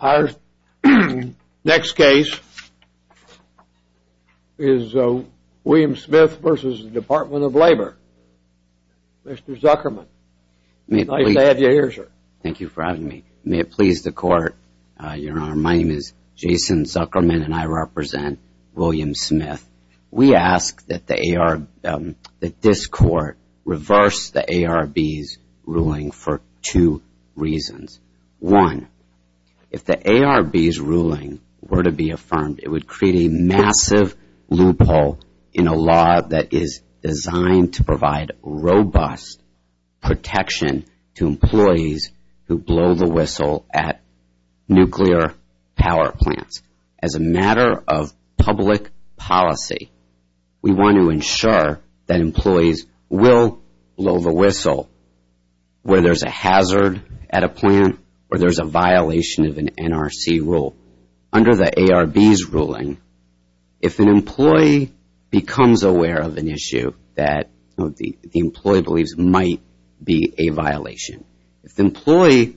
Our next case is William Smith v. Department of Labor. Mr. Zuckerman, nice to have you here sir. Thank you for having me. May it please the court, your honor. My name is Jason Zuckerman and I represent William Smith. We ask that this court reverse the ARB's ruling for two reasons. One, if the ARB's ruling were to be affirmed it would create a massive loophole in a law that is designed to provide robust protection to employees who blow the whistle at nuclear power plants. As a matter of public policy, we want to ensure that employees will blow the whistle where there's a hazard at a plant or there's a violation of an NRC rule. Under the ARB's ruling, if an employee becomes aware of an issue that the employee believes might be a violation, if the employee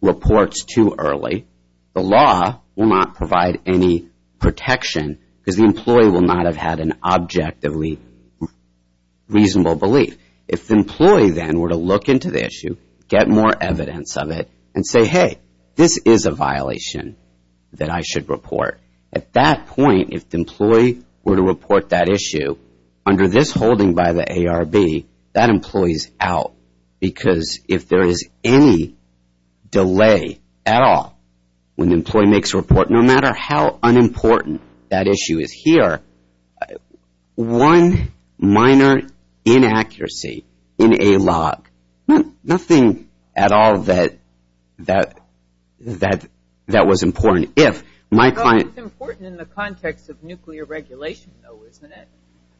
reports too early, the law will not provide any protection because the employee will not have had an objectively reasonable belief. If the employee then were to look into the issue, get more evidence of it and say, hey, this is a violation that I should report. At that point, if the employee were to report that issue under this holding by the ARB, that employee is out because if there is any delay at all, when the employee makes a report no matter how unimportant that issue is here, one minor inaccuracy in a log, nothing at all that was important. It's important in the context of nuclear regulation, though, isn't it?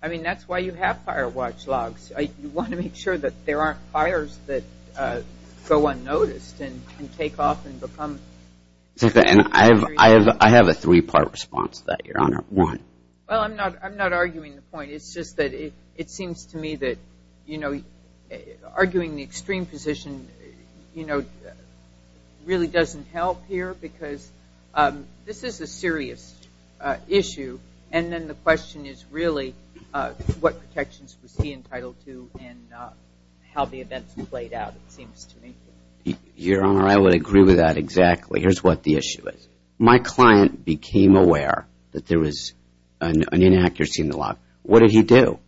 I mean, that's why you have fire watch logs. You want to make sure that there aren't fires that go unnoticed and take off and become... I have a three-part response to that, Your Honor. Why? Well, I'm not arguing the point. It's just that it seems to me that arguing the extreme position really doesn't help here because this is a serious issue, and then the question is really what protections was he entitled to and how the events played out, it seems to me. Your Honor, I would agree with that exactly. Here's what the issue is. If my client became aware that there was an inaccuracy in the log, what did he do?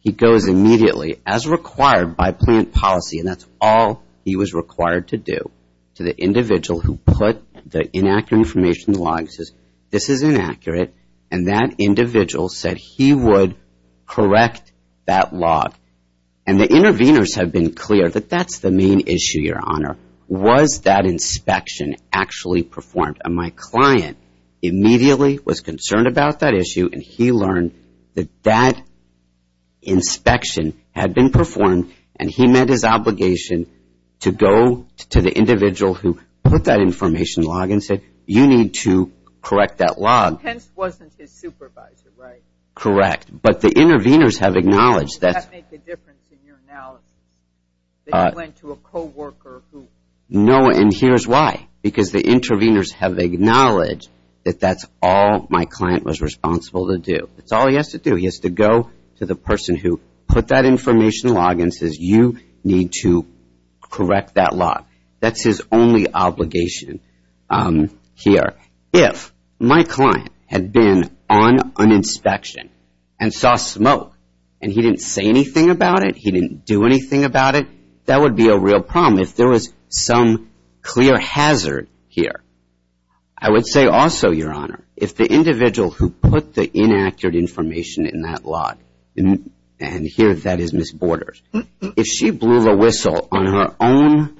He goes immediately, as required by plant policy, and that's all he was required to do, to the individual who put the inaccurate information in the log and says, this is inaccurate, and that individual said he would correct that log. And the interveners have been clear that that's the main issue, Your Honor. Was that inspection actually performed? And my client immediately was concerned about that issue, and he learned that that inspection had been performed, and he met his obligation to go to the individual who put that information in the log and said, you need to correct that log. Pence wasn't his supervisor, right? Correct. But the interveners have acknowledged that... And here's why. Because the interveners have acknowledged that that's all my client was responsible to do. That's all he has to do. He has to go to the person who put that information in the log and says, you need to correct that log. That's his only obligation here. If my client had been on an inspection and saw smoke, and he didn't say anything about it, he didn't do anything about it, that would be a real problem. If there was some clear hazard here. I would say also, Your Honor, if the individual who put the inaccurate information in that log, and here that is Ms. Borders, if she blew the whistle on her own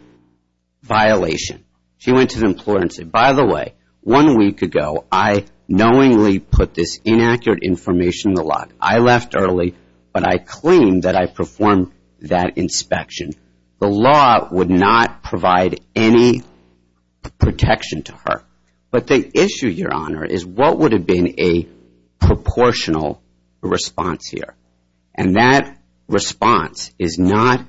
violation, she went to the employer and said, by the way, one week ago I knowingly put this inaccurate information in the log. I left early, but I claim that I performed that inspection. The law would not provide any protection to her. But the issue, Your Honor, is what would have been a proportional response here. And that response is not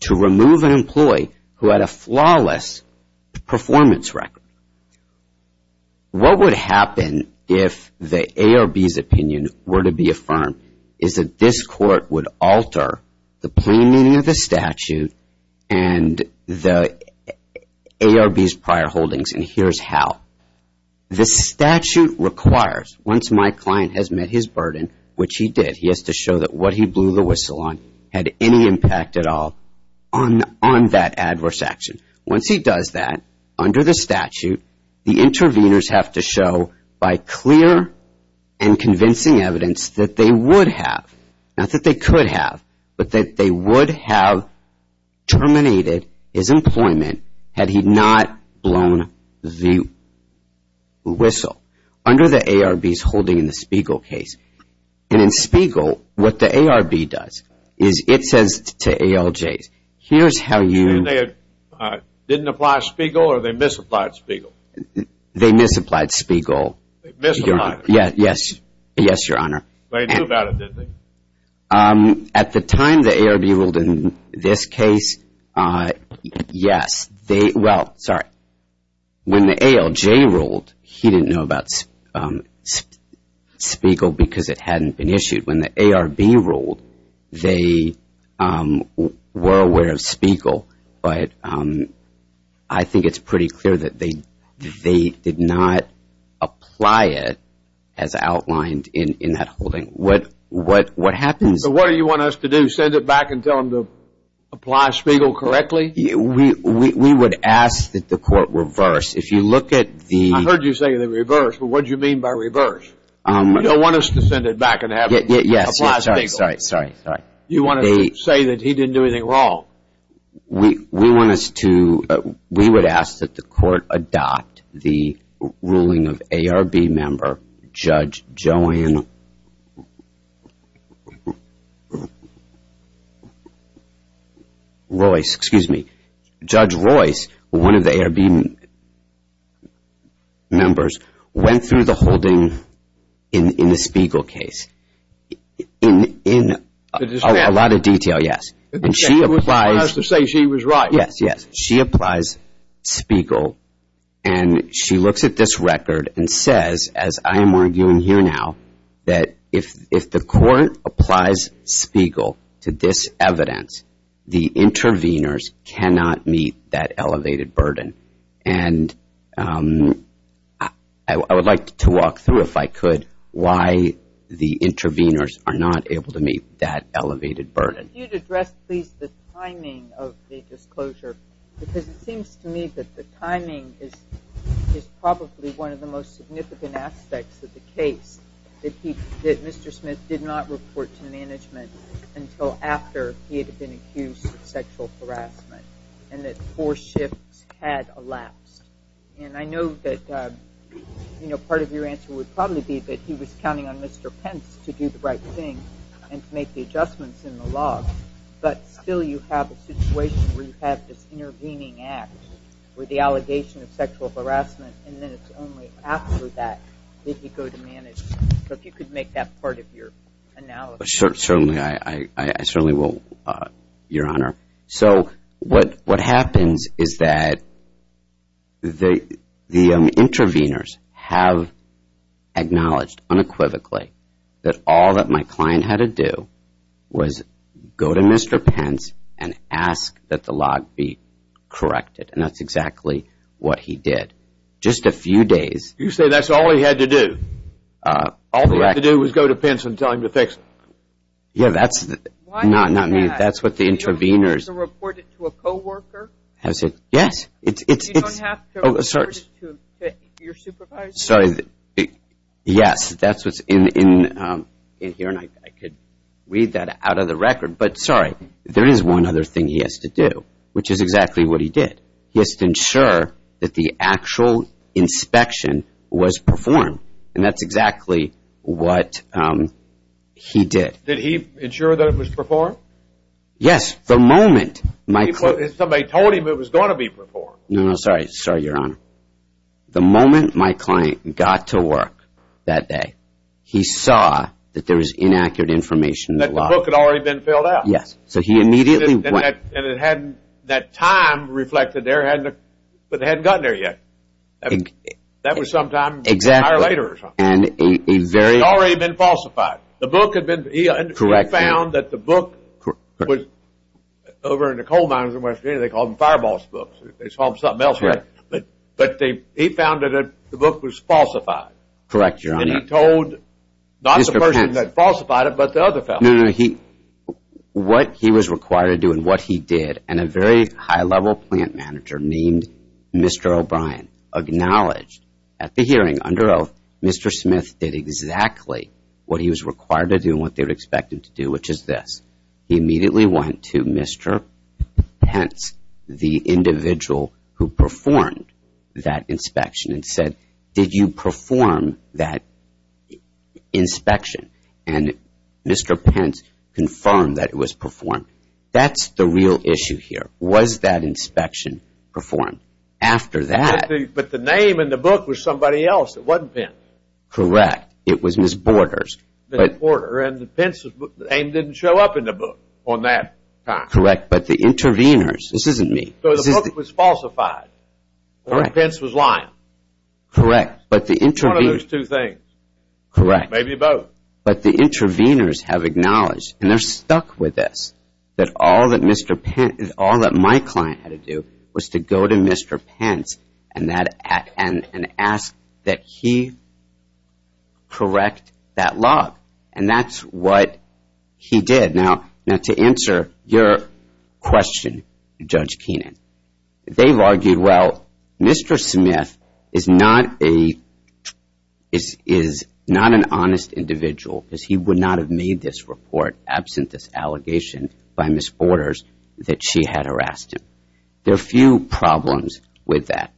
to remove an employee who had a flawless performance record. What would happen if the A or B's opinion were to be affirmed is that this court would alter the plain meaning of the statute and the A or B's prior holdings, and here's how. The statute requires, once my client has met his burden, which he did, he has to show that what he blew the whistle on had any impact at all on that adverse action. Once he does that, under the statute, the interveners have to show by clear and convincing evidence that they would have, not that they could have, but that they would have terminated his employment had he not blown the whistle under the A or B's holding in the Spiegel case. And in Spiegel, what the A or B does is it says to ALJs, here's how you. And they didn't apply Spiegel or they misapplied Spiegel? They misapplied Spiegel. They misapplied. Yes, Your Honor. But they knew about it, didn't they? At the time the A or B ruled in this case, yes. Well, sorry. When the ALJ ruled, he didn't know about Spiegel because it hadn't been issued. When the A or B ruled, they were aware of Spiegel, but I think it's pretty clear that they did not apply it as outlined in that holding. What happens? So what do you want us to do, send it back and tell them to apply Spiegel correctly? We would ask that the court reverse. If you look at the – I heard you say the reverse, but what do you mean by reverse? You don't want us to send it back and have them apply Spiegel? Yes, sorry, sorry, sorry. You want us to say that he didn't do anything wrong? No. We want us to – we would ask that the court adopt the ruling of A or B member Judge Joanne Royce. Excuse me. Judge Royce, one of the A or B members, went through the holding in the Spiegel case in a lot of detail, yes. And she applies – You want us to say she was right. Yes, yes. She applies Spiegel, and she looks at this record and says, as I am arguing here now, that if the court applies Spiegel to this evidence, the intervenors cannot meet that elevated burden. And I would like to walk through, if I could, why the intervenors are not able to meet that elevated burden. If you could address, please, the timing of the disclosure, because it seems to me that the timing is probably one of the most significant aspects of the case, that Mr. Smith did not report to management until after he had been accused of sexual harassment, and that four shifts had elapsed. And I know that part of your answer would probably be that he was counting on Mr. Pence to do the right thing and to make the adjustments in the law, but still you have a situation where you have this intervening act with the allegation of sexual harassment, and then it's only after that that you go to management. So if you could make that part of your analysis. Certainly. I certainly will, Your Honor. So what happens is that the intervenors have acknowledged unequivocally that all that my client had to do was go to Mr. Pence and ask that the law be corrected, and that's exactly what he did. Just a few days. You say that's all he had to do? All he had to do was go to Pence and tell him to fix it? Yeah, that's not me. That's what the intervenors. You don't have to report it to a co-worker? Yes. You don't have to report it to your supervisor? Sorry. Yes, that's what's in here, and I could read that out of the record. But, sorry, there is one other thing he has to do, which is exactly what he did. He has to ensure that the actual inspection was performed, and that's exactly what he did. Did he ensure that it was performed? Yes. The moment my client. Somebody told him it was going to be performed. No, no, sorry. Sorry, Your Honor. The moment my client got to work that day, he saw that there was inaccurate information. That the book had already been filled out. Yes. So he immediately went. And that time reflected there, but it hadn't gotten there yet. That was sometime prior or later or something. Exactly. And a very. It had already been falsified. The book had been. Correct. He found that the book was over in the coal mines in West Virginia. They called them fireball books. They called them something else. Correct. But he found that the book was falsified. Correct, Your Honor. And he told not the person that falsified it, but the other fellow. No, no. What he was required to do and what he did, and a very high-level plant manager named Mr. O'Brien. Acknowledged at the hearing, under oath, Mr. Smith did exactly what he was required to do. And what they would expect him to do, which is this. He immediately went to Mr. Pence, the individual who performed that inspection. And said, did you perform that inspection? And Mr. Pence confirmed that it was performed. That's the real issue here. Was that inspection performed? After that. But the name in the book was somebody else. It wasn't Pence. Correct. It was Ms. Borders. Ms. Borders. And Pence's name didn't show up in the book on that time. Correct. But the interveners. This isn't me. So the book was falsified. Correct. Or Pence was lying. Correct. It's one of those two things. Correct. Maybe both. But the interveners have acknowledged, and they're stuck with this, that all that my client had to do was to go to Mr. Pence and ask that he correct that log. And that's what he did. Now, to answer your question, Judge Kenan, they've argued, well, Mr. Smith is not an honest individual because he would not have made this report absent this allegation by Ms. Borders that she had harassed him. There are a few problems with that.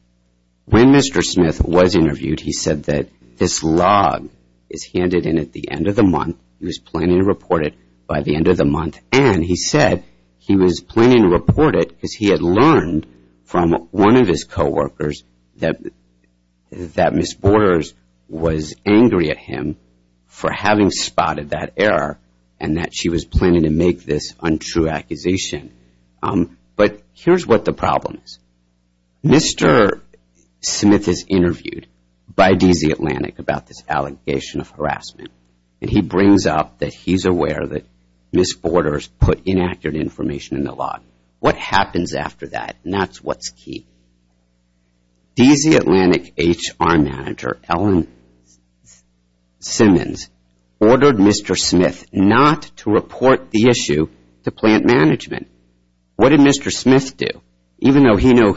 When Mr. Smith was interviewed, he said that this log is handed in at the end of the month. He was planning to report it by the end of the month. And he said he was planning to report it because he had learned from one of his coworkers that Ms. Borders was angry at him for having spotted that error and that she was planning to make this untrue accusation. But here's what the problem is. Mr. Smith is interviewed by DZ Atlantic about this allegation of harassment. And he brings up that he's aware that Ms. Borders put inaccurate information in the log. What happens after that? And that's what's key. DZ Atlantic HR Manager, Ellen Simmons, ordered Mr. Smith not to report the issue to plant management. What did Mr. Smith do? Even though he knew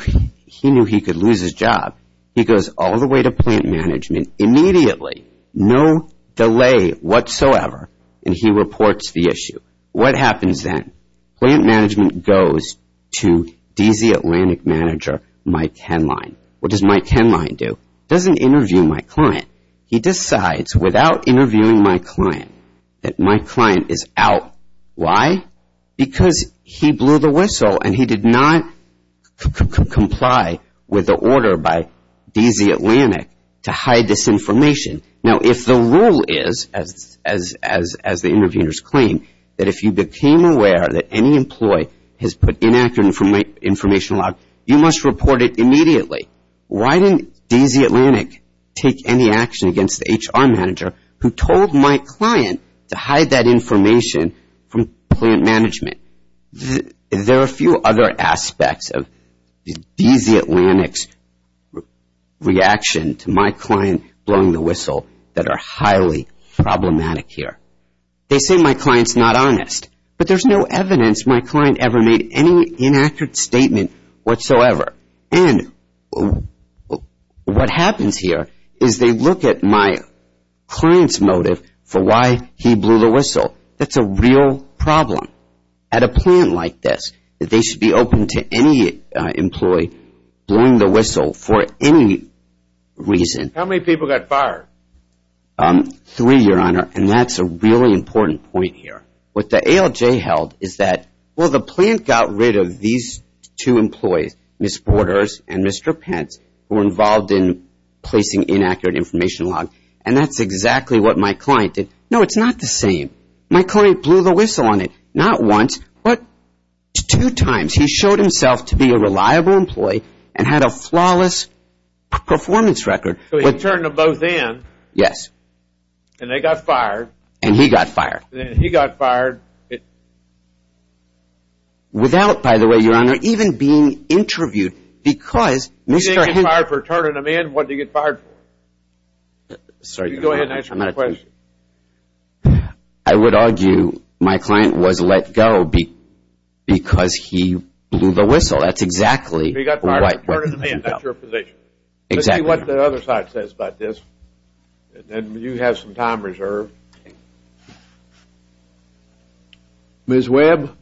he could lose his job, he goes all the way to plant management immediately, no delay whatsoever, and he reports the issue. What happens then? Plant management goes to DZ Atlantic Manager, Mike Henline. What does Mike Henline do? He doesn't interview my client. He decides without interviewing my client that my client is out. Why? Because he blew the whistle and he did not comply with the order by DZ Atlantic to hide this information. Now if the rule is, as the interviewers claim, that if you became aware that any employee has put inaccurate information in the log, you must report it immediately. Why didn't DZ Atlantic take any action against the HR Manager who told my client to hide that information from plant management? There are a few other aspects of DZ Atlantic's reaction to my client blowing the whistle that are highly problematic here. They say my client's not honest, but there's no evidence my client ever made any inaccurate statement whatsoever. And what happens here is they look at my client's motive for why he blew the whistle. That's a real problem. At a plant like this, they should be open to any employee blowing the whistle for any reason. How many people got fired? Three, Your Honor, and that's a really important point here. What the ALJ held is that, well, the plant got rid of these two employees, Ms. Borders and Mr. Pence, who were involved in placing inaccurate information logs, and that's exactly what my client did. No, it's not the same. My client blew the whistle on it, not once, but two times. He showed himself to be a reliable employee and had a flawless performance record. So he turned them both in. Yes. And they got fired. And he got fired. And then he got fired. Without, by the way, Your Honor, even being interviewed, because Mr. Henson He didn't get fired for turning them in. What did he get fired for? Go ahead and answer my question. I would argue my client was let go because he blew the whistle. That's exactly what happened. He got fired for turning them in. That's your position. Exactly. Let's see what the other side says about this. And you have some time reserved. Ms. Webb.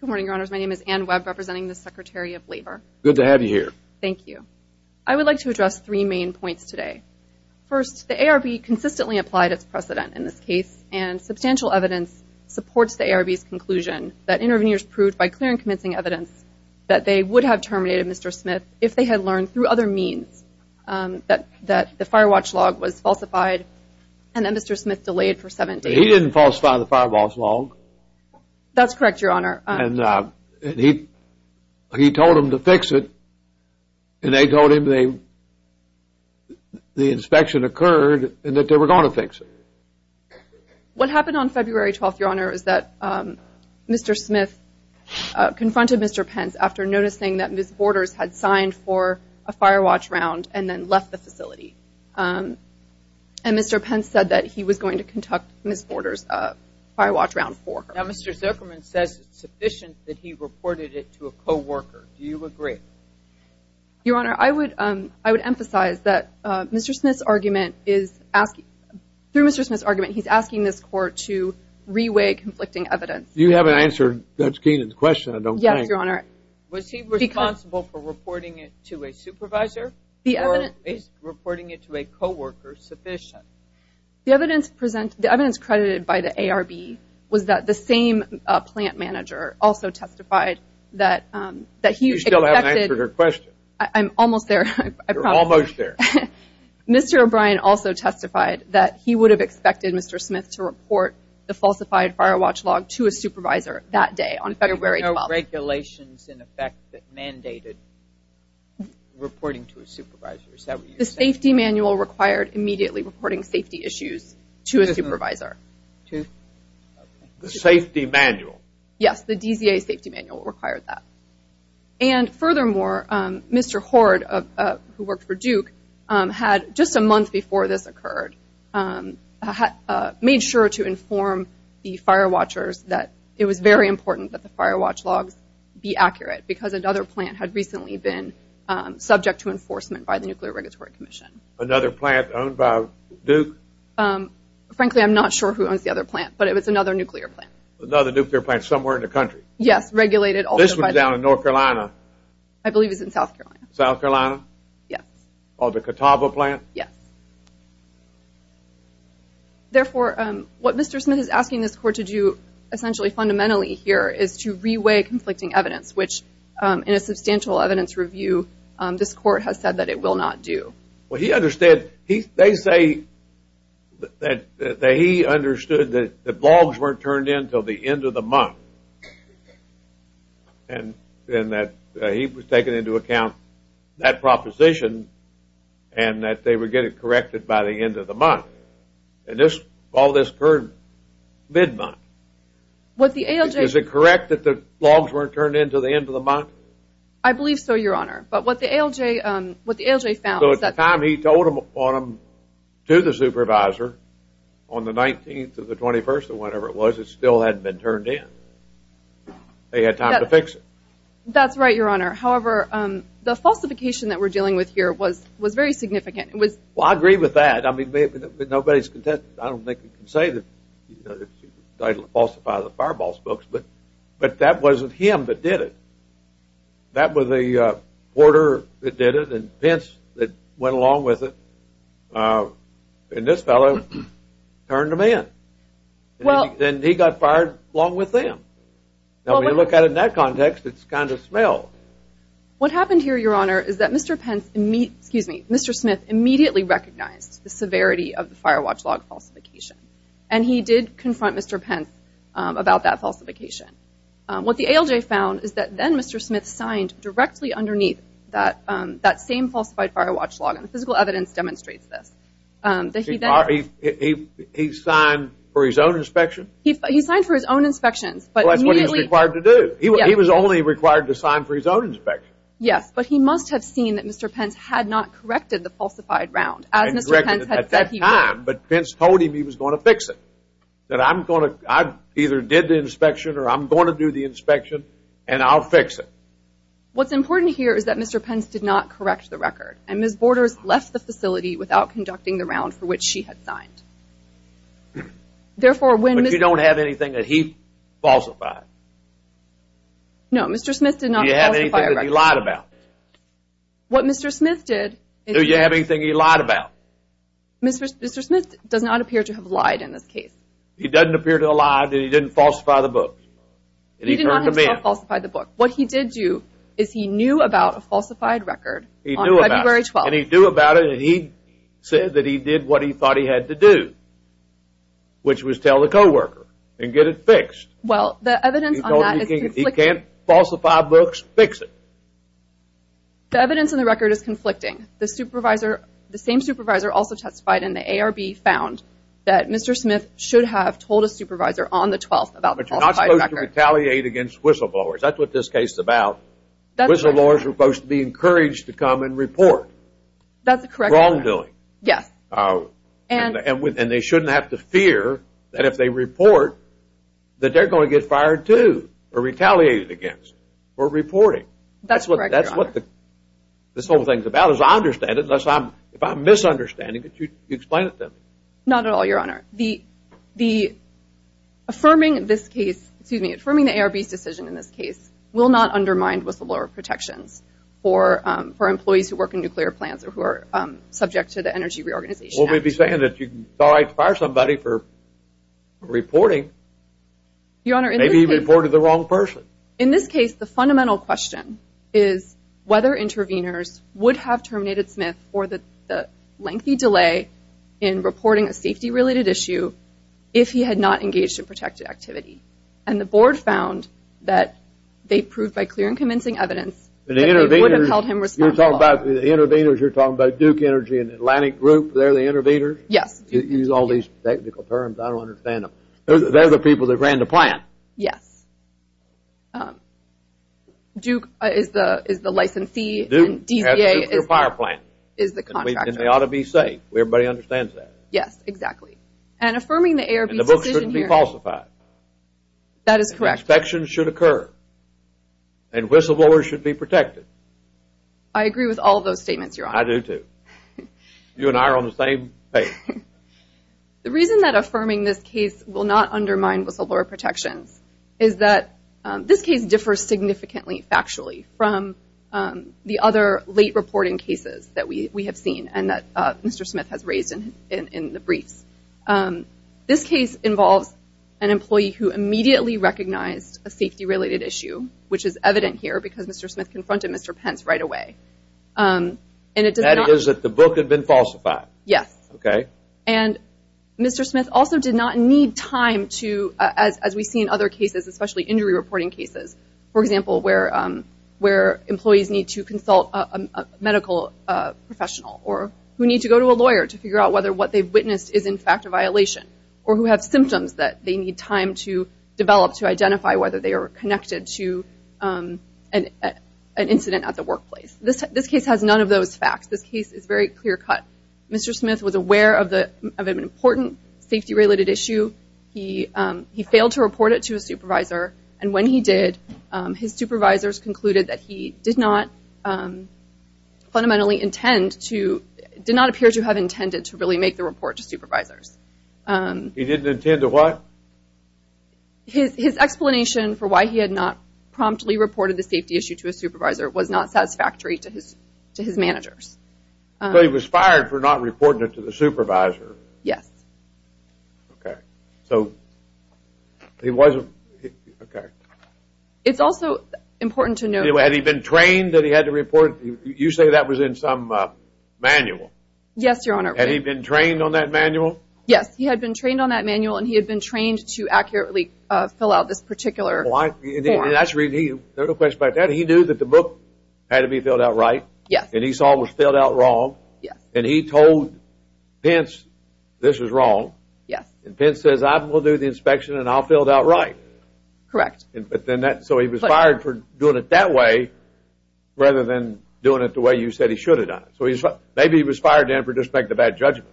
Good morning, Your Honors. My name is Ann Webb, representing the Secretary of Labor. Good to have you here. Thank you. I would like to address three main points today. First, the ARB consistently applied its precedent in this case, and substantial evidence supports the ARB's conclusion that interveners proved, by clear and convincing evidence, that they would have terminated Mr. Smith if they had learned through other means that the fire watch log was falsified and that Mr. Smith delayed for seven days. He didn't falsify the fire watch log. That's correct, Your Honor. And he told them to fix it, and they told him the inspection occurred and that they were going to fix it. What happened on February 12th, Your Honor, is that Mr. Smith confronted Mr. Pence after noticing that Ms. Borders had signed for a fire watch round and then left the facility. And Mr. Pence said that he was going to conduct Ms. Borders' fire watch round for her. Now, Mr. Zuckerman says it's sufficient that he reported it to a co-worker. Do you agree? Your Honor, I would emphasize that Mr. Smith's argument is asking, through Mr. Smith's argument, he's asking this court to re-weigh conflicting evidence. You haven't answered Judge Keenan's question, I don't think. Was he responsible for reporting it to a supervisor or is reporting it to a co-worker sufficient? The evidence credited by the ARB was that the same plant manager also testified that he expected. You still haven't answered her question. I'm almost there. You're almost there. Mr. O'Brien also testified that he would have expected Mr. Smith to report the falsified fire watch log to a supervisor that day on February 12th. There were regulations in effect that mandated reporting to a supervisor. Is that what you're saying? The safety manual required immediately reporting safety issues to a supervisor. The safety manual? Yes, the DZA safety manual required that. And furthermore, Mr. Horde, who worked for Duke, had, just a month before this occurred, made sure to inform the fire watchers that it was very important that the fire watch logs be accurate because another plant had recently been subject to enforcement by the Nuclear Regulatory Commission. Another plant owned by Duke? Frankly, I'm not sure who owns the other plant, but it was another nuclear plant. Another nuclear plant somewhere in the country? Yes, regulated. This one's down in North Carolina? I believe it's in South Carolina. South Carolina? Yes. Oh, the Catawba plant? Yes. Therefore, what Mr. Smith is asking this court to do, essentially fundamentally here, is to re-weigh conflicting evidence, which, in a substantial evidence review, this court has said that it will not do. Well, he understood. They say that he understood that the logs weren't turned in until the end of the month and that he was taking into account that proposition and that they would get it corrected by the end of the month. And this, all this occurred mid-month. Was it correct that the logs weren't turned in until the end of the month? I believe so, Your Honor. But what the ALJ found was that... So at the time he told them to the supervisor, on the 19th or the 21st or whatever it was, the logs still hadn't been turned in. They had time to fix it. That's right, Your Honor. However, the falsification that we're dealing with here was very significant. Well, I agree with that. I mean, nobody's contested it. I don't think you can say that he falsified the fireball spokes. But that wasn't him that did it. That was a porter that did it and Pence that went along with it. And this fellow turned them in. Then he got fired along with them. Now, when you look at it in that context, it's kind of smell. What happened here, Your Honor, is that Mr. Pence, excuse me, Mr. Smith, immediately recognized the severity of the fire watch log falsification. And he did confront Mr. Pence about that falsification. What the ALJ found is that then Mr. Smith signed directly underneath that same falsified fire watch log. And the physical evidence demonstrates this. He signed for his own inspection? He signed for his own inspections. Well, that's what he was required to do. He was only required to sign for his own inspection. Yes, but he must have seen that Mr. Pence had not corrected the falsified round, as Mr. Pence had said he would. But Pence told him he was going to fix it, that I either did the inspection or I'm going to do the inspection and I'll fix it. What's important here is that Mr. Pence did not correct the record. And Ms. Borders left the facility without conducting the round for which she had signed. But you don't have anything that he falsified? No, Mr. Smith did not falsify a record. Do you have anything that he lied about? What Mr. Smith did is he… Do you have anything he lied about? Mr. Smith does not appear to have lied in this case. He doesn't appear to have lied that he didn't falsify the book? He did not himself falsify the book. What he did do is he knew about a falsified record. He knew about it. On February 12th. And he knew about it and he said that he did what he thought he had to do, which was tell the co-worker and get it fixed. Well, the evidence on that is conflicting. He can't falsify books, fix it. The evidence on the record is conflicting. The supervisor, the same supervisor also testified in the ARB, found that Mr. Smith should have told a supervisor on the 12th about the falsified record. But you're not supposed to retaliate against whistleblowers. That's what this case is about. Whistleblowers are supposed to be encouraged to come and report. That's correct, Your Honor. Wrongdoing. Yes. And they shouldn't have to fear that if they report that they're going to get fired too or retaliated against for reporting. That's correct, Your Honor. That's what this whole thing is about is I understand it. If I'm misunderstanding it, you explain it to me. Not at all, Your Honor. Affirming this case, excuse me, affirming the ARB's decision in this case will not undermine whistleblower protections for employees who work in nuclear plants or who are subject to the Energy Reorganization Act. Well, we'd be saying that you can fire somebody for reporting. Maybe you reported the wrong person. In this case, the fundamental question is whether interveners would have terminated Smith for the lengthy delay in reporting a safety-related issue if he had not engaged in protected activity. And the board found that they proved by clear and convincing evidence that they would have held him responsible. You're talking about the interveners. You're talking about Duke Energy and Atlantic Group. They're the interveners? Yes. You use all these technical terms. I don't understand them. They're the people that ran the plant. Yes. Duke is the licensee. And DBA is the contractor. And they ought to be safe. Everybody understands that. Yes, exactly. And affirming the ARB's decision here. And the books shouldn't be falsified. That is correct. Inspections should occur. And whistleblowers should be protected. I agree with all those statements, Your Honor. I do, too. You and I are on the same page. The reason that affirming this case will not undermine whistleblower protections is that this case differs significantly, factually, from the other late reporting cases that we have seen and that Mr. Smith has raised in the briefs. This case involves an employee who immediately recognized a safety-related issue, which is evident here because Mr. Smith confronted Mr. Pence right away. And it does not mean that the book had been falsified. Yes. Okay. And Mr. Smith also did not need time to, as we see in other cases, especially injury reporting cases, for example, where employees need to consult a medical professional or who need to go to a lawyer to figure out whether what they've witnessed is, in fact, a violation, or who have symptoms that they need time to develop to identify whether they are connected to an incident at the workplace. This case has none of those facts. This case is very clear-cut. Mr. Smith was aware of an important safety-related issue. He failed to report it to his supervisor, and when he did his supervisors concluded that he did not fundamentally intend to, did not appear to have intended to really make the report to supervisors. He didn't intend to what? His explanation for why he had not promptly reported the safety issue to his supervisor was not satisfactory to his managers. So he was fired for not reporting it to the supervisor. Yes. Okay. So he wasn't, okay. It's also important to note. Had he been trained that he had to report? You say that was in some manual. Yes, Your Honor. Had he been trained on that manual? Yes, he had been trained on that manual, and he had been trained to accurately fill out this particular form. And that's really, no question about that, he knew that the book had to be filled out right? Yes. And he saw what was filled out wrong? Yes. And he told Pence this was wrong? Yes. And Pence says, I will do the inspection and I'll fill it out right? Correct. But then that, so he was fired for doing it that way rather than doing it the way you said he should have done it. So maybe he was fired in for disrespect of bad judgment.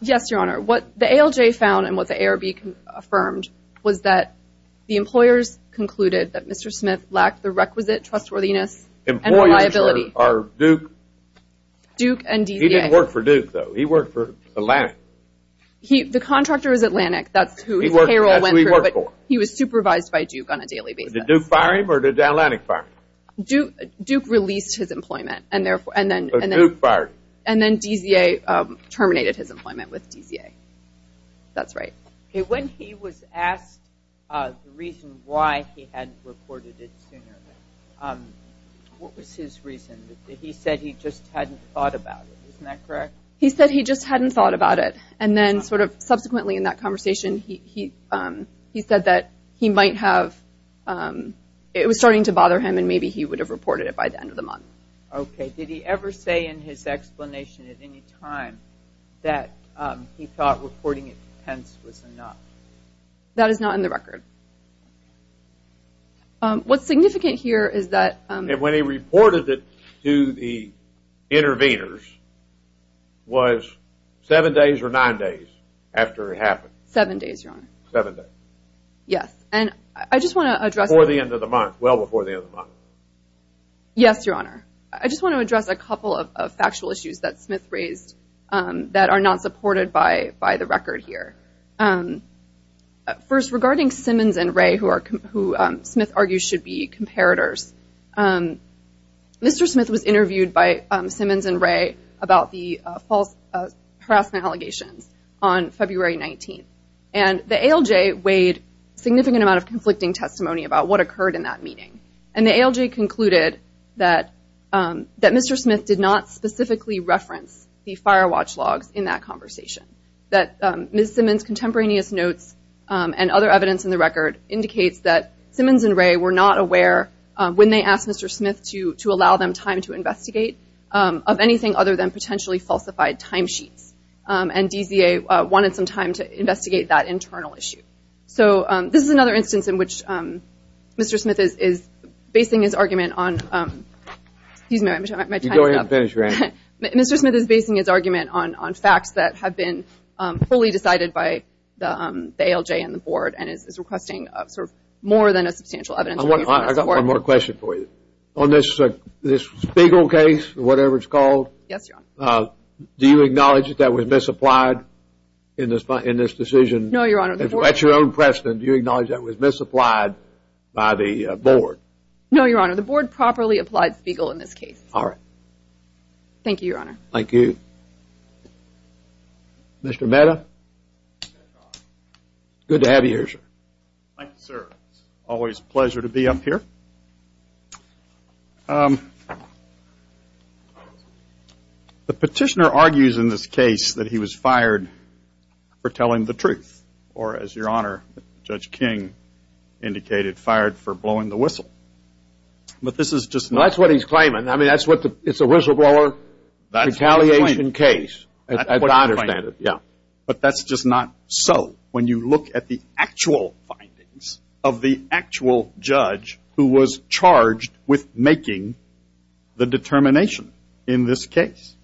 Yes, Your Honor. What the ALJ found and what the ARB affirmed was that the employers concluded that Mr. Smith lacked the requisite trustworthiness and reliability. Employers are Duke? Duke and DZA. He didn't work for Duke though, he worked for Atlantic. The contractor is Atlantic, that's who his payroll went through. That's who he worked for. He was supervised by Duke on a daily basis. Did Duke fire him or did Atlantic fire him? Duke released his employment and then DZA terminated his employment with DZA. That's right. Okay, when he was asked the reason why he hadn't reported it sooner, what was his reason? He said he just hadn't thought about it, isn't that correct? He said he just hadn't thought about it and then sort of subsequently in that conversation he said that he might have, it was starting to bother him and maybe he would have reported it by the end of the month. Okay, did he ever say in his explanation at any time that he thought reporting it to Pence was enough? That is not in the record. What's significant here is that And when he reported it to the interveners, was seven days or nine days after it happened? Seven days, Your Honor. Seven days. Yes, and I just want to address Before the end of the month, well before the end of the month. Yes, Your Honor. I just want to address a couple of factual issues that Smith raised that are not supported by the record here. First, regarding Simmons and Wray, who Smith argues should be comparators. Mr. Smith was interviewed by Simmons and Wray about the false harassment allegations on February 19th. And the ALJ weighed a significant amount of conflicting testimony about what occurred in that meeting. And the ALJ concluded that Mr. Smith did not specifically reference the fire watch logs in that conversation. That Ms. Simmons' contemporaneous notes and other evidence in the record indicates that Simmons and Wray were not aware when they asked Mr. Smith to allow them time to investigate of anything other than potentially falsified timesheets. And DZA wanted some time to investigate that internal issue. So, this is another instance in which Mr. Smith is basing his argument on Excuse me, my time is up. Go ahead and finish your answer. Mr. Smith is basing his argument on facts that have been fully decided by the ALJ and the board and is requesting sort of more than a substantial evidence. I've got one more question for you. On this Spiegel case, or whatever it's called. Yes, Your Honor. Do you acknowledge that was misapplied in this decision? No, Your Honor. At your own precedent, do you acknowledge that was misapplied by the board? No, Your Honor. The board properly applied Spiegel in this case. All right. Thank you, Your Honor. Thank you. Mr. Mehta. Good to have you here, sir. Thank you, sir. Always a pleasure to be up here. The petitioner argues in this case that he was fired for telling the truth. Or, as Your Honor, Judge King indicated, fired for blowing the whistle. But this is just not. That's what he's claiming. I mean, it's a whistleblower retaliation case. That's what he's claiming. I understand it. Yeah. But that's just not so. When you look at the actual findings of the actual judge who was charged with making the determination in this case,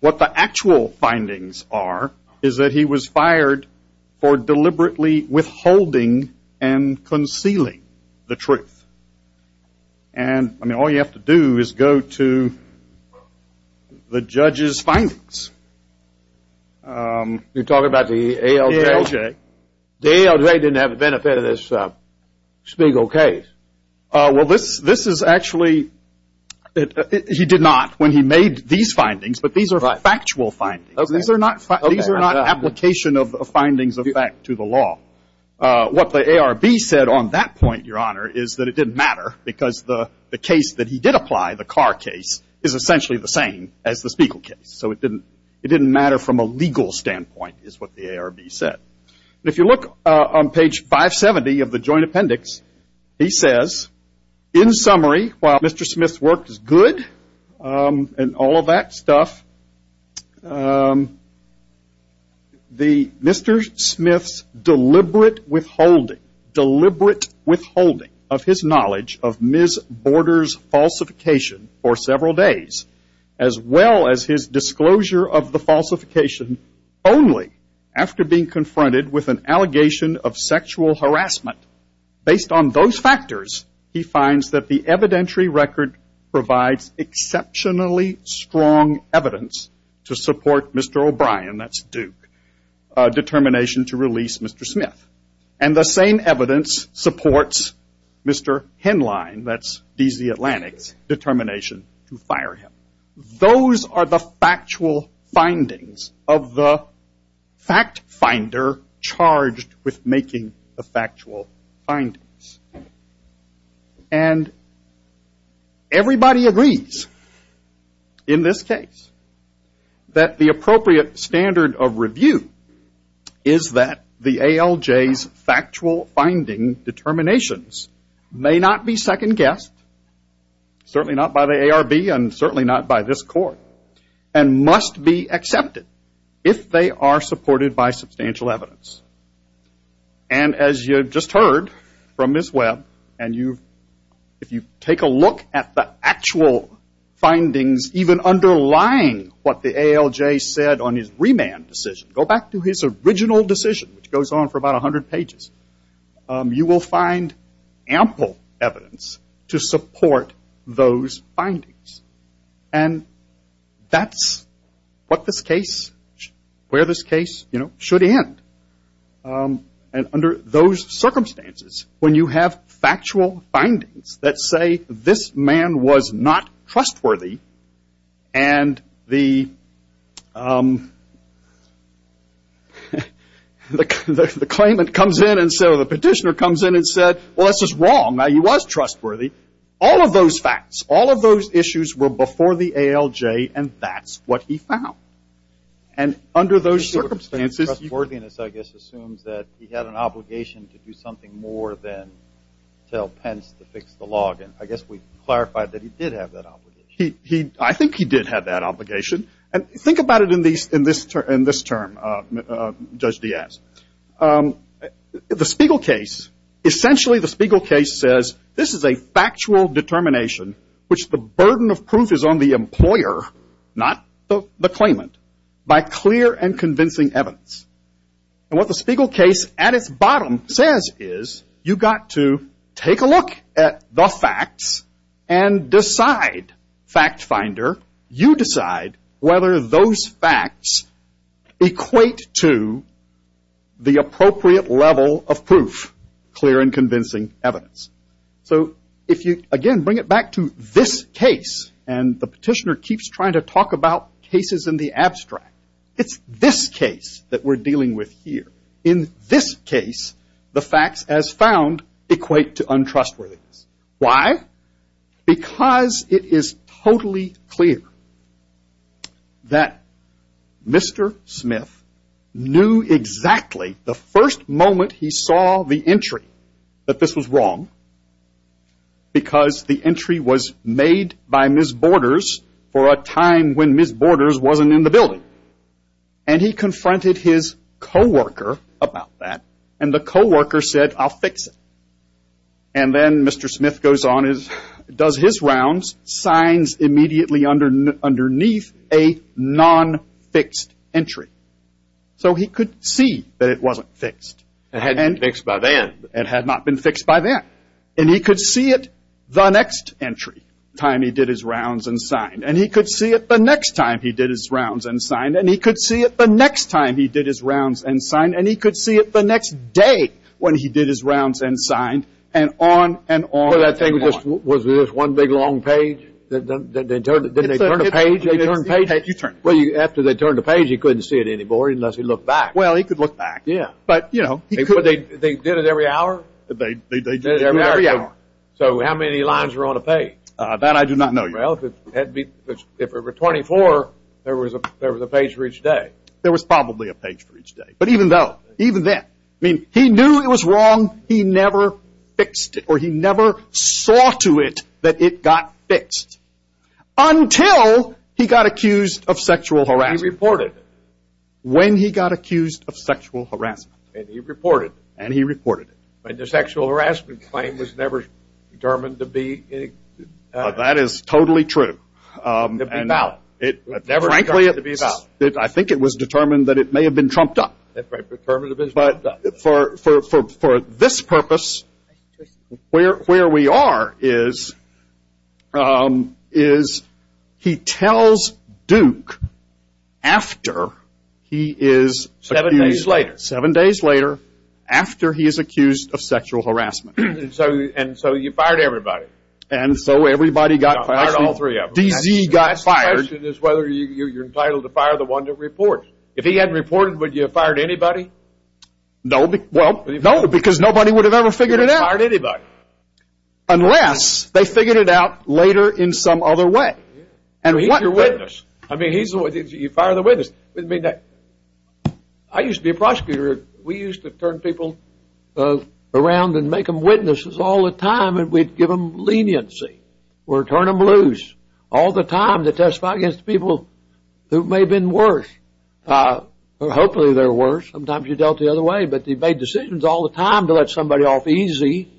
what the actual findings are is that he was fired for deliberately withholding and concealing the truth. And, I mean, all you have to do is go to the judge's findings. You're talking about the ALJ? ALJ. The ALJ didn't have the benefit of this Spiegel case. Well, this is actually he did not when he made these findings, but these are factual findings. These are not application of findings of fact to the law. What the ARB said on that point, Your Honor, is that it didn't matter because the case that he did apply, the Carr case, is essentially the same as the Spiegel case. So it didn't matter from a legal standpoint, is what the ARB said. And if you look on page 570 of the joint appendix, he says, in summary, while Mr. Smith's work is good and all of that stuff, Mr. Smith's deliberate withholding of his knowledge of Ms. Borders' falsification for several days, as well as his disclosure of the falsification only after being confronted with an allegation of sexual harassment, based on those factors, he finds that the evidentiary record provides exceptionally strong evidence to support Mr. O'Brien, that's Duke, determination to release Mr. Smith. And the same evidence supports Mr. Henline, that's D.C. Atlantic's determination to fire him. Those are the factual findings of the fact finder charged with making the factual findings. And everybody agrees in this case that the appropriate standard of review is that the ALJ's factual finding determinations may not be second guessed, certainly not by the ARB and certainly not by this court, and must be accepted if they are supported by substantial evidence. And as you just heard from Ms. Webb, and if you take a look at the actual findings, even underlying what the ALJ said on his remand decision, go back to his original decision, which goes on for about 100 pages, you will find ample evidence to support those findings. And that's what this case, where this case, you know, should end. And under those circumstances, when you have factual findings that say this man was not trustworthy, and the claimant comes in and so the petitioner comes in and said, well, this is wrong, now he was trustworthy. All of those facts, all of those issues were before the ALJ, and that's what he found. And under those circumstances. Trustworthiness, I guess, assumes that he had an obligation to do something more than tell Pence to fix the log. And I guess we clarified that he did have that obligation. I think he did have that obligation. And think about it in this term, Judge Diaz. The Spiegel case, essentially the Spiegel case says this is a factual determination, which the burden of proof is on the employer, not the claimant, by clear and convincing evidence. And what the Spiegel case at its bottom says is you've got to take a look at the facts and decide, fact finder, you decide whether those facts equate to the appropriate level of proof, clear and convincing evidence. So if you, again, bring it back to this case, and the petitioner keeps trying to talk about cases in the abstract, it's this case that we're dealing with here. In this case, the facts as found equate to untrustworthiness. Why? Because it is totally clear that Mr. Smith knew exactly the first moment he saw the entry that this was wrong, because the entry was made by Ms. Borders for a time when Ms. Borders wasn't in the building. And he confronted his coworker about that, and the coworker said, I'll fix it. And then Mr. Smith goes on and does his rounds, signs immediately underneath a non-fixed entry. So he could see that it wasn't fixed. It hadn't been fixed by then. It had not been fixed by then. And he could see it the next entry, the time he did his rounds and signed, and he could see it the next time he did his rounds and signed, and he could see it the next time he did his rounds and signed, and he could see it the next day when he did his rounds and signed, and on and on and on. Was it just one big long page? Did they turn the page? After they turned the page, he couldn't see it anymore unless he looked back. Well, he could look back. Yeah. They did it every hour? They did it every hour. So how many lines were on a page? That I do not know. Well, if it were 24, there was a page for each day. There was probably a page for each day. But even though, even then, I mean, he knew it was wrong. He never fixed it, or he never saw to it that it got fixed, until he got accused of sexual harassment. He reported it. When he got accused of sexual harassment. And he reported it. And he reported it. But the sexual harassment claim was never determined to be... That is totally true. Never determined to be found. I think it was determined that it may have been trumped up. Determined to be trumped up. But for this purpose, where we are is he tells Duke after he is... Seven days later. Seven days later, after he is accused of sexual harassment. And so you fired everybody. And so everybody got fired. You fired all three of them. D.Z. got fired. The last question is whether you're entitled to fire the one that reports. If he hadn't reported, would you have fired anybody? No. Well, no, because nobody would have ever figured it out. You wouldn't have fired anybody. Unless they figured it out later in some other way. And what... He's your witness. I mean, you fire the witness. I used to be a prosecutor. We used to turn people around and make them witnesses all the time. And we'd give them leniency. Or turn them loose. All the time to testify against people who may have been worse. Or hopefully they're worse. Sometimes you're dealt the other way. But you made decisions all the time to let somebody off easy.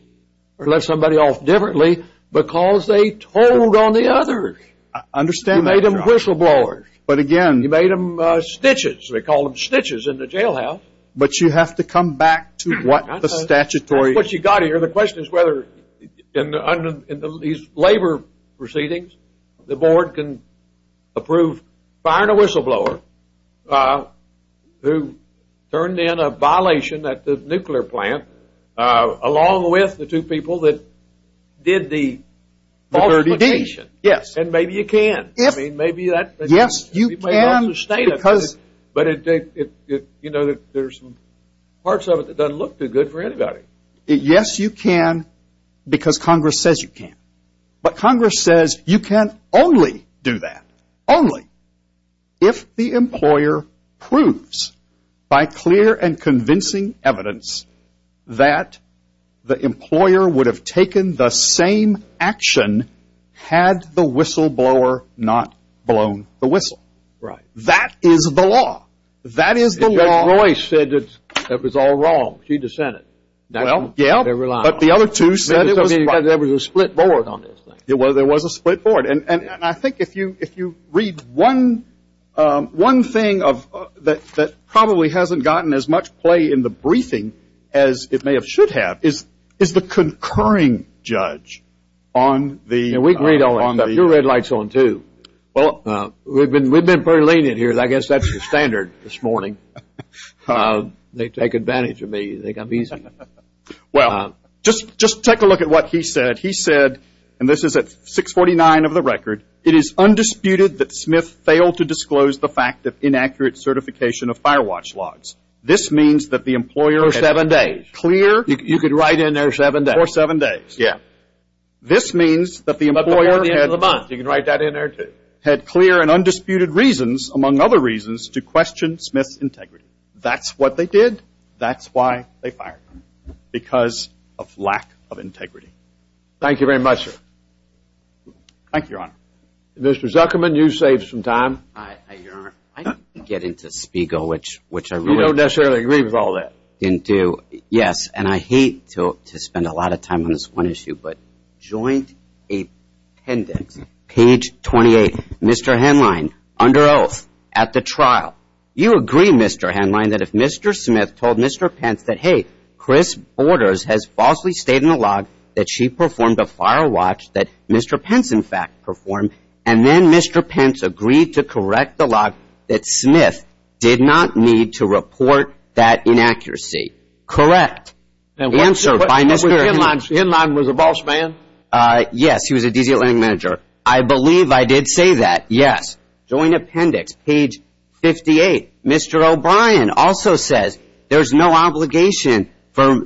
Or let somebody off differently. Because they told on the others. You made them whistleblowers. But again... You made them snitches. They called them snitches in the jailhouse. But you have to come back to what the statutory... That's what you've got to hear. I mean, the question is whether in these labor proceedings the board can approve firing a whistleblower who turned in a violation at the nuclear plant along with the two people that did the falsification. Yes. And maybe you can. I mean, maybe that... Yes, you can. But, you know, there's parts of it that doesn't look too good for anybody. Yes, you can. Because Congress says you can. But Congress says you can only do that. Only. If the employer proves by clear and convincing evidence that the employer would have taken the same action had the whistleblower not blown the whistle. Right. That is the law. That is the law. Judge Royce said it was all wrong. She dissented. Well, yeah. But the other two said it was right. There was a split board on this thing. Well, there was a split board. And I think if you read one thing that probably hasn't gotten as much play in the briefing as it may have should have is the concurring judge on the... Yeah, we agree on that. You're red lights on, too. Well, we've been pretty lenient here. I guess that's the standard this morning. They take advantage of me. They think I'm easy. Well, just take a look at what he said. He said, and this is at 649 of the record, it is undisputed that Smith failed to disclose the fact of inaccurate certification of fire watch logs. This means that the employer... For seven days. Clear... You could write in there seven days. For seven days. Yeah. This means that the employer... By the end of the month. You can write that in there, too. had clear and undisputed reasons, among other reasons, to question Smith's integrity. That's what they did. That's why they fired him, because of lack of integrity. Thank you very much, sir. Thank you, Your Honor. Mr. Zuckerman, you saved some time. Your Honor, I didn't get into Spiegel, which I really... You don't necessarily agree with all that. Didn't do. Yes, and I hate to spend a lot of time on this one issue, but Joint Appendix, page 28. Mr. Henlein, under oath at the trial, you agree, Mr. Henlein, that if Mr. Smith told Mr. Pence that, hey, Chris Borders has falsely stated in the log that she performed a fire watch that Mr. Pence, in fact, performed, and then Mr. Pence agreed to correct the log, that Smith did not need to report that inaccuracy. Correct. Answered by Mr. Henlein. Mr. Henlein was a boss man? Yes, he was a DC Atlantic manager. I believe I did say that, yes. Joint Appendix, page 58. Mr. O'Brien also says there's no obligation for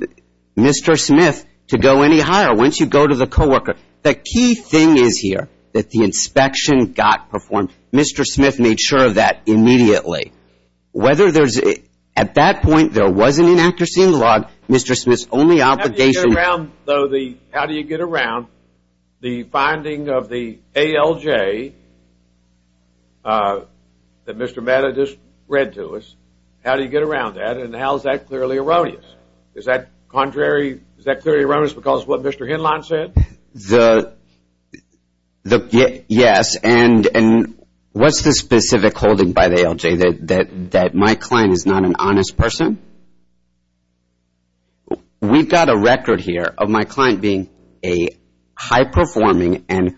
Mr. Smith to go any higher once you go to the co-worker. The key thing is here that the inspection got performed. Mr. Smith made sure of that immediately. At that point, there was an inaccuracy in the log. Mr. Smith's only obligation. How do you get around the finding of the ALJ that Mr. Matta just read to us? How do you get around that, and how is that clearly erroneous? Is that contrary, is that clearly erroneous because of what Mr. Henlein said? Yes, and what's the specific holding by the ALJ, that my client is not an honest person? We've got a record here of my client being a high-performing and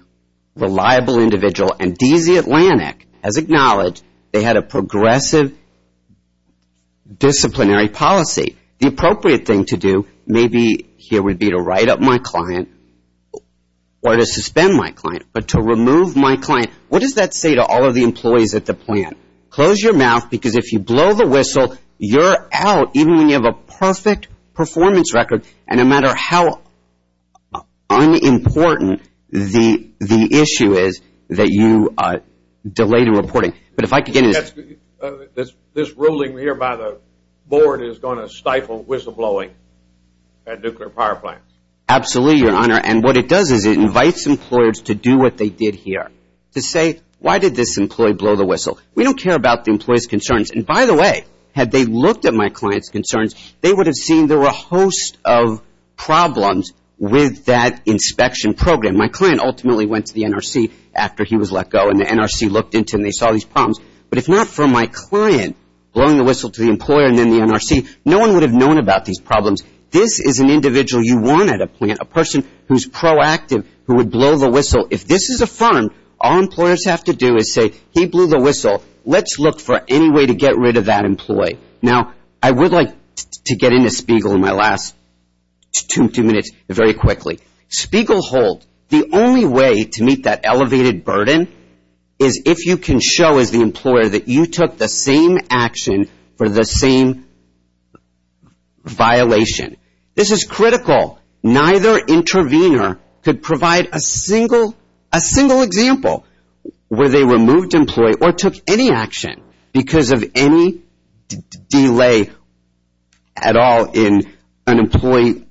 reliable individual, and DC Atlantic has acknowledged they had a progressive disciplinary policy. The appropriate thing to do maybe here would be to write up my client or to suspend my client, but to remove my client. What does that say to all of the employees at the plant? Close your mouth because if you blow the whistle, you're out, even when you have a perfect performance record, and no matter how unimportant the issue is that you delay the reporting. This ruling here by the board is going to stifle whistleblowing at nuclear power plants? Absolutely, Your Honor, and what it does is it invites employers to do what they did here, to say, why did this employee blow the whistle? We don't care about the employee's concerns, and by the way, had they looked at my client's concerns, they would have seen there were a host of problems with that inspection program. My client ultimately went to the NRC after he was let go, and the NRC looked into it, and they saw these problems, but if not for my client blowing the whistle to the employer and then the NRC, no one would have known about these problems. This is an individual you want at a plant, a person who's proactive, who would blow the whistle. If this is a firm, all employers have to do is say, he blew the whistle. Let's look for any way to get rid of that employee. Now, I would like to get into Spiegel in my last two minutes very quickly. Spiegel hold, the only way to meet that elevated burden is if you can show, as the employer, that you took the same action for the same violation. This is critical. Neither intervener could provide a single example where they removed an employee or took any action because of any delay at all in an employee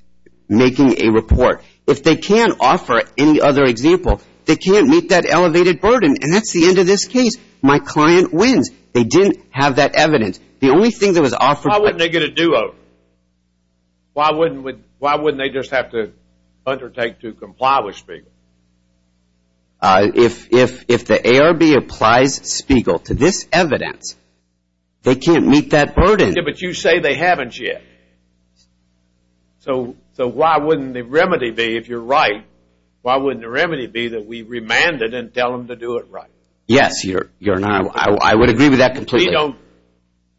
making a report. If they can't offer any other example, they can't meet that elevated burden. And that's the end of this case. My client wins. They didn't have that evidence. The only thing that was offered by the NRC. Why wouldn't they get a do-over? Why wouldn't they just have to undertake to comply with Spiegel? If the ARB applies Spiegel to this evidence, they can't meet that burden. Yeah, but you say they haven't yet. So why wouldn't the remedy be, if you're right, why wouldn't the remedy be that we remand it and tell them to do it right? Yes, Your Honor. I would agree with that completely.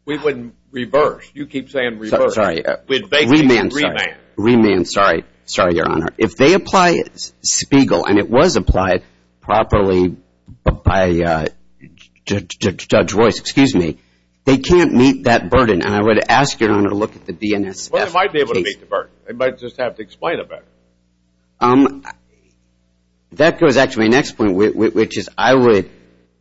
We wouldn't reverse. You keep saying reverse. Sorry. We'd basically remand. Remand, sorry. Sorry, Your Honor. If they apply Spiegel, and it was applied properly by Judge Royce, excuse me, they can't meet that burden. And I would ask, Your Honor, to look at the BNSF case. Well, they might be able to meet the burden. They might just have to explain it better. That goes actually to my next point, which is I would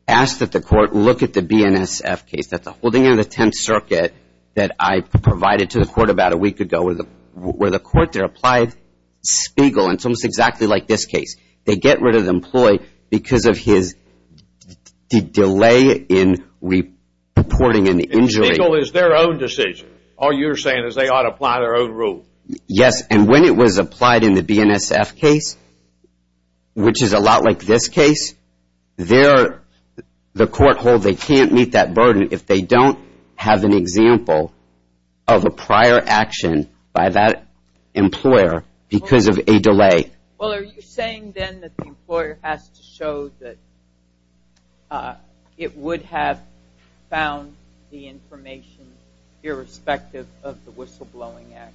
ask that the court look at the BNSF case. That's a holding in the Tenth Circuit that I provided to the court about a week ago where the court there applied Spiegel, and it's almost exactly like this case. They get rid of the employee because of his delay in reporting an injury. And Spiegel is their own decision. All you're saying is they ought to apply their own rule. Yes, and when it was applied in the BNSF case, which is a lot like this case, the court holds they can't meet that burden if they don't have an example of a prior action by that employer because of a delay. Well, are you saying then that the employer has to show that it would have found the information irrespective of the whistleblowing act?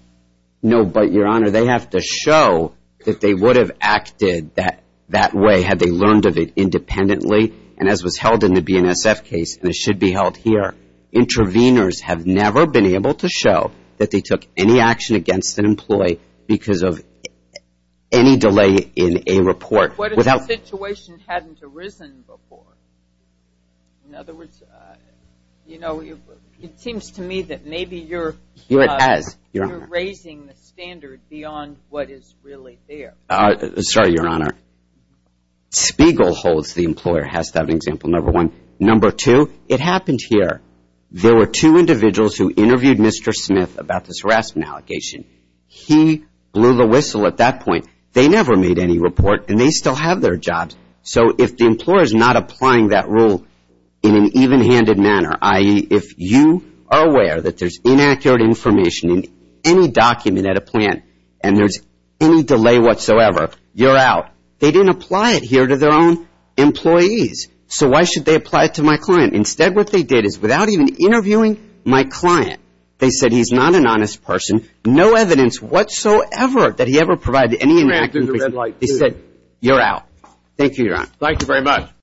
No, but, Your Honor, they have to show that they would have acted that way had they learned of it independently, and as was held in the BNSF case, and it should be held here, interveners have never been able to show that they took any action against an employee because of any delay in a report. What if the situation hadn't arisen before? In other words, you know, it seems to me that maybe you're raising the standard beyond what is really there. Sorry, Your Honor. Spiegel holds the employer has to have an example, number one. Number two, it happened here. There were two individuals who interviewed Mr. Smith about this harassment allegation. He blew the whistle at that point. They never made any report, and they still have their jobs. So if the employer is not applying that rule in an even-handed manner, i.e., if you are aware that there's inaccurate information in any document at a plant and there's any delay whatsoever, you're out. They didn't apply it here to their own employees. So why should they apply it to my client? Instead, what they did is without even interviewing my client, they said he's not an honest person, no evidence whatsoever that he ever provided any inaccurate information. They said, you're out. Thank you, Your Honor. Thank you very much.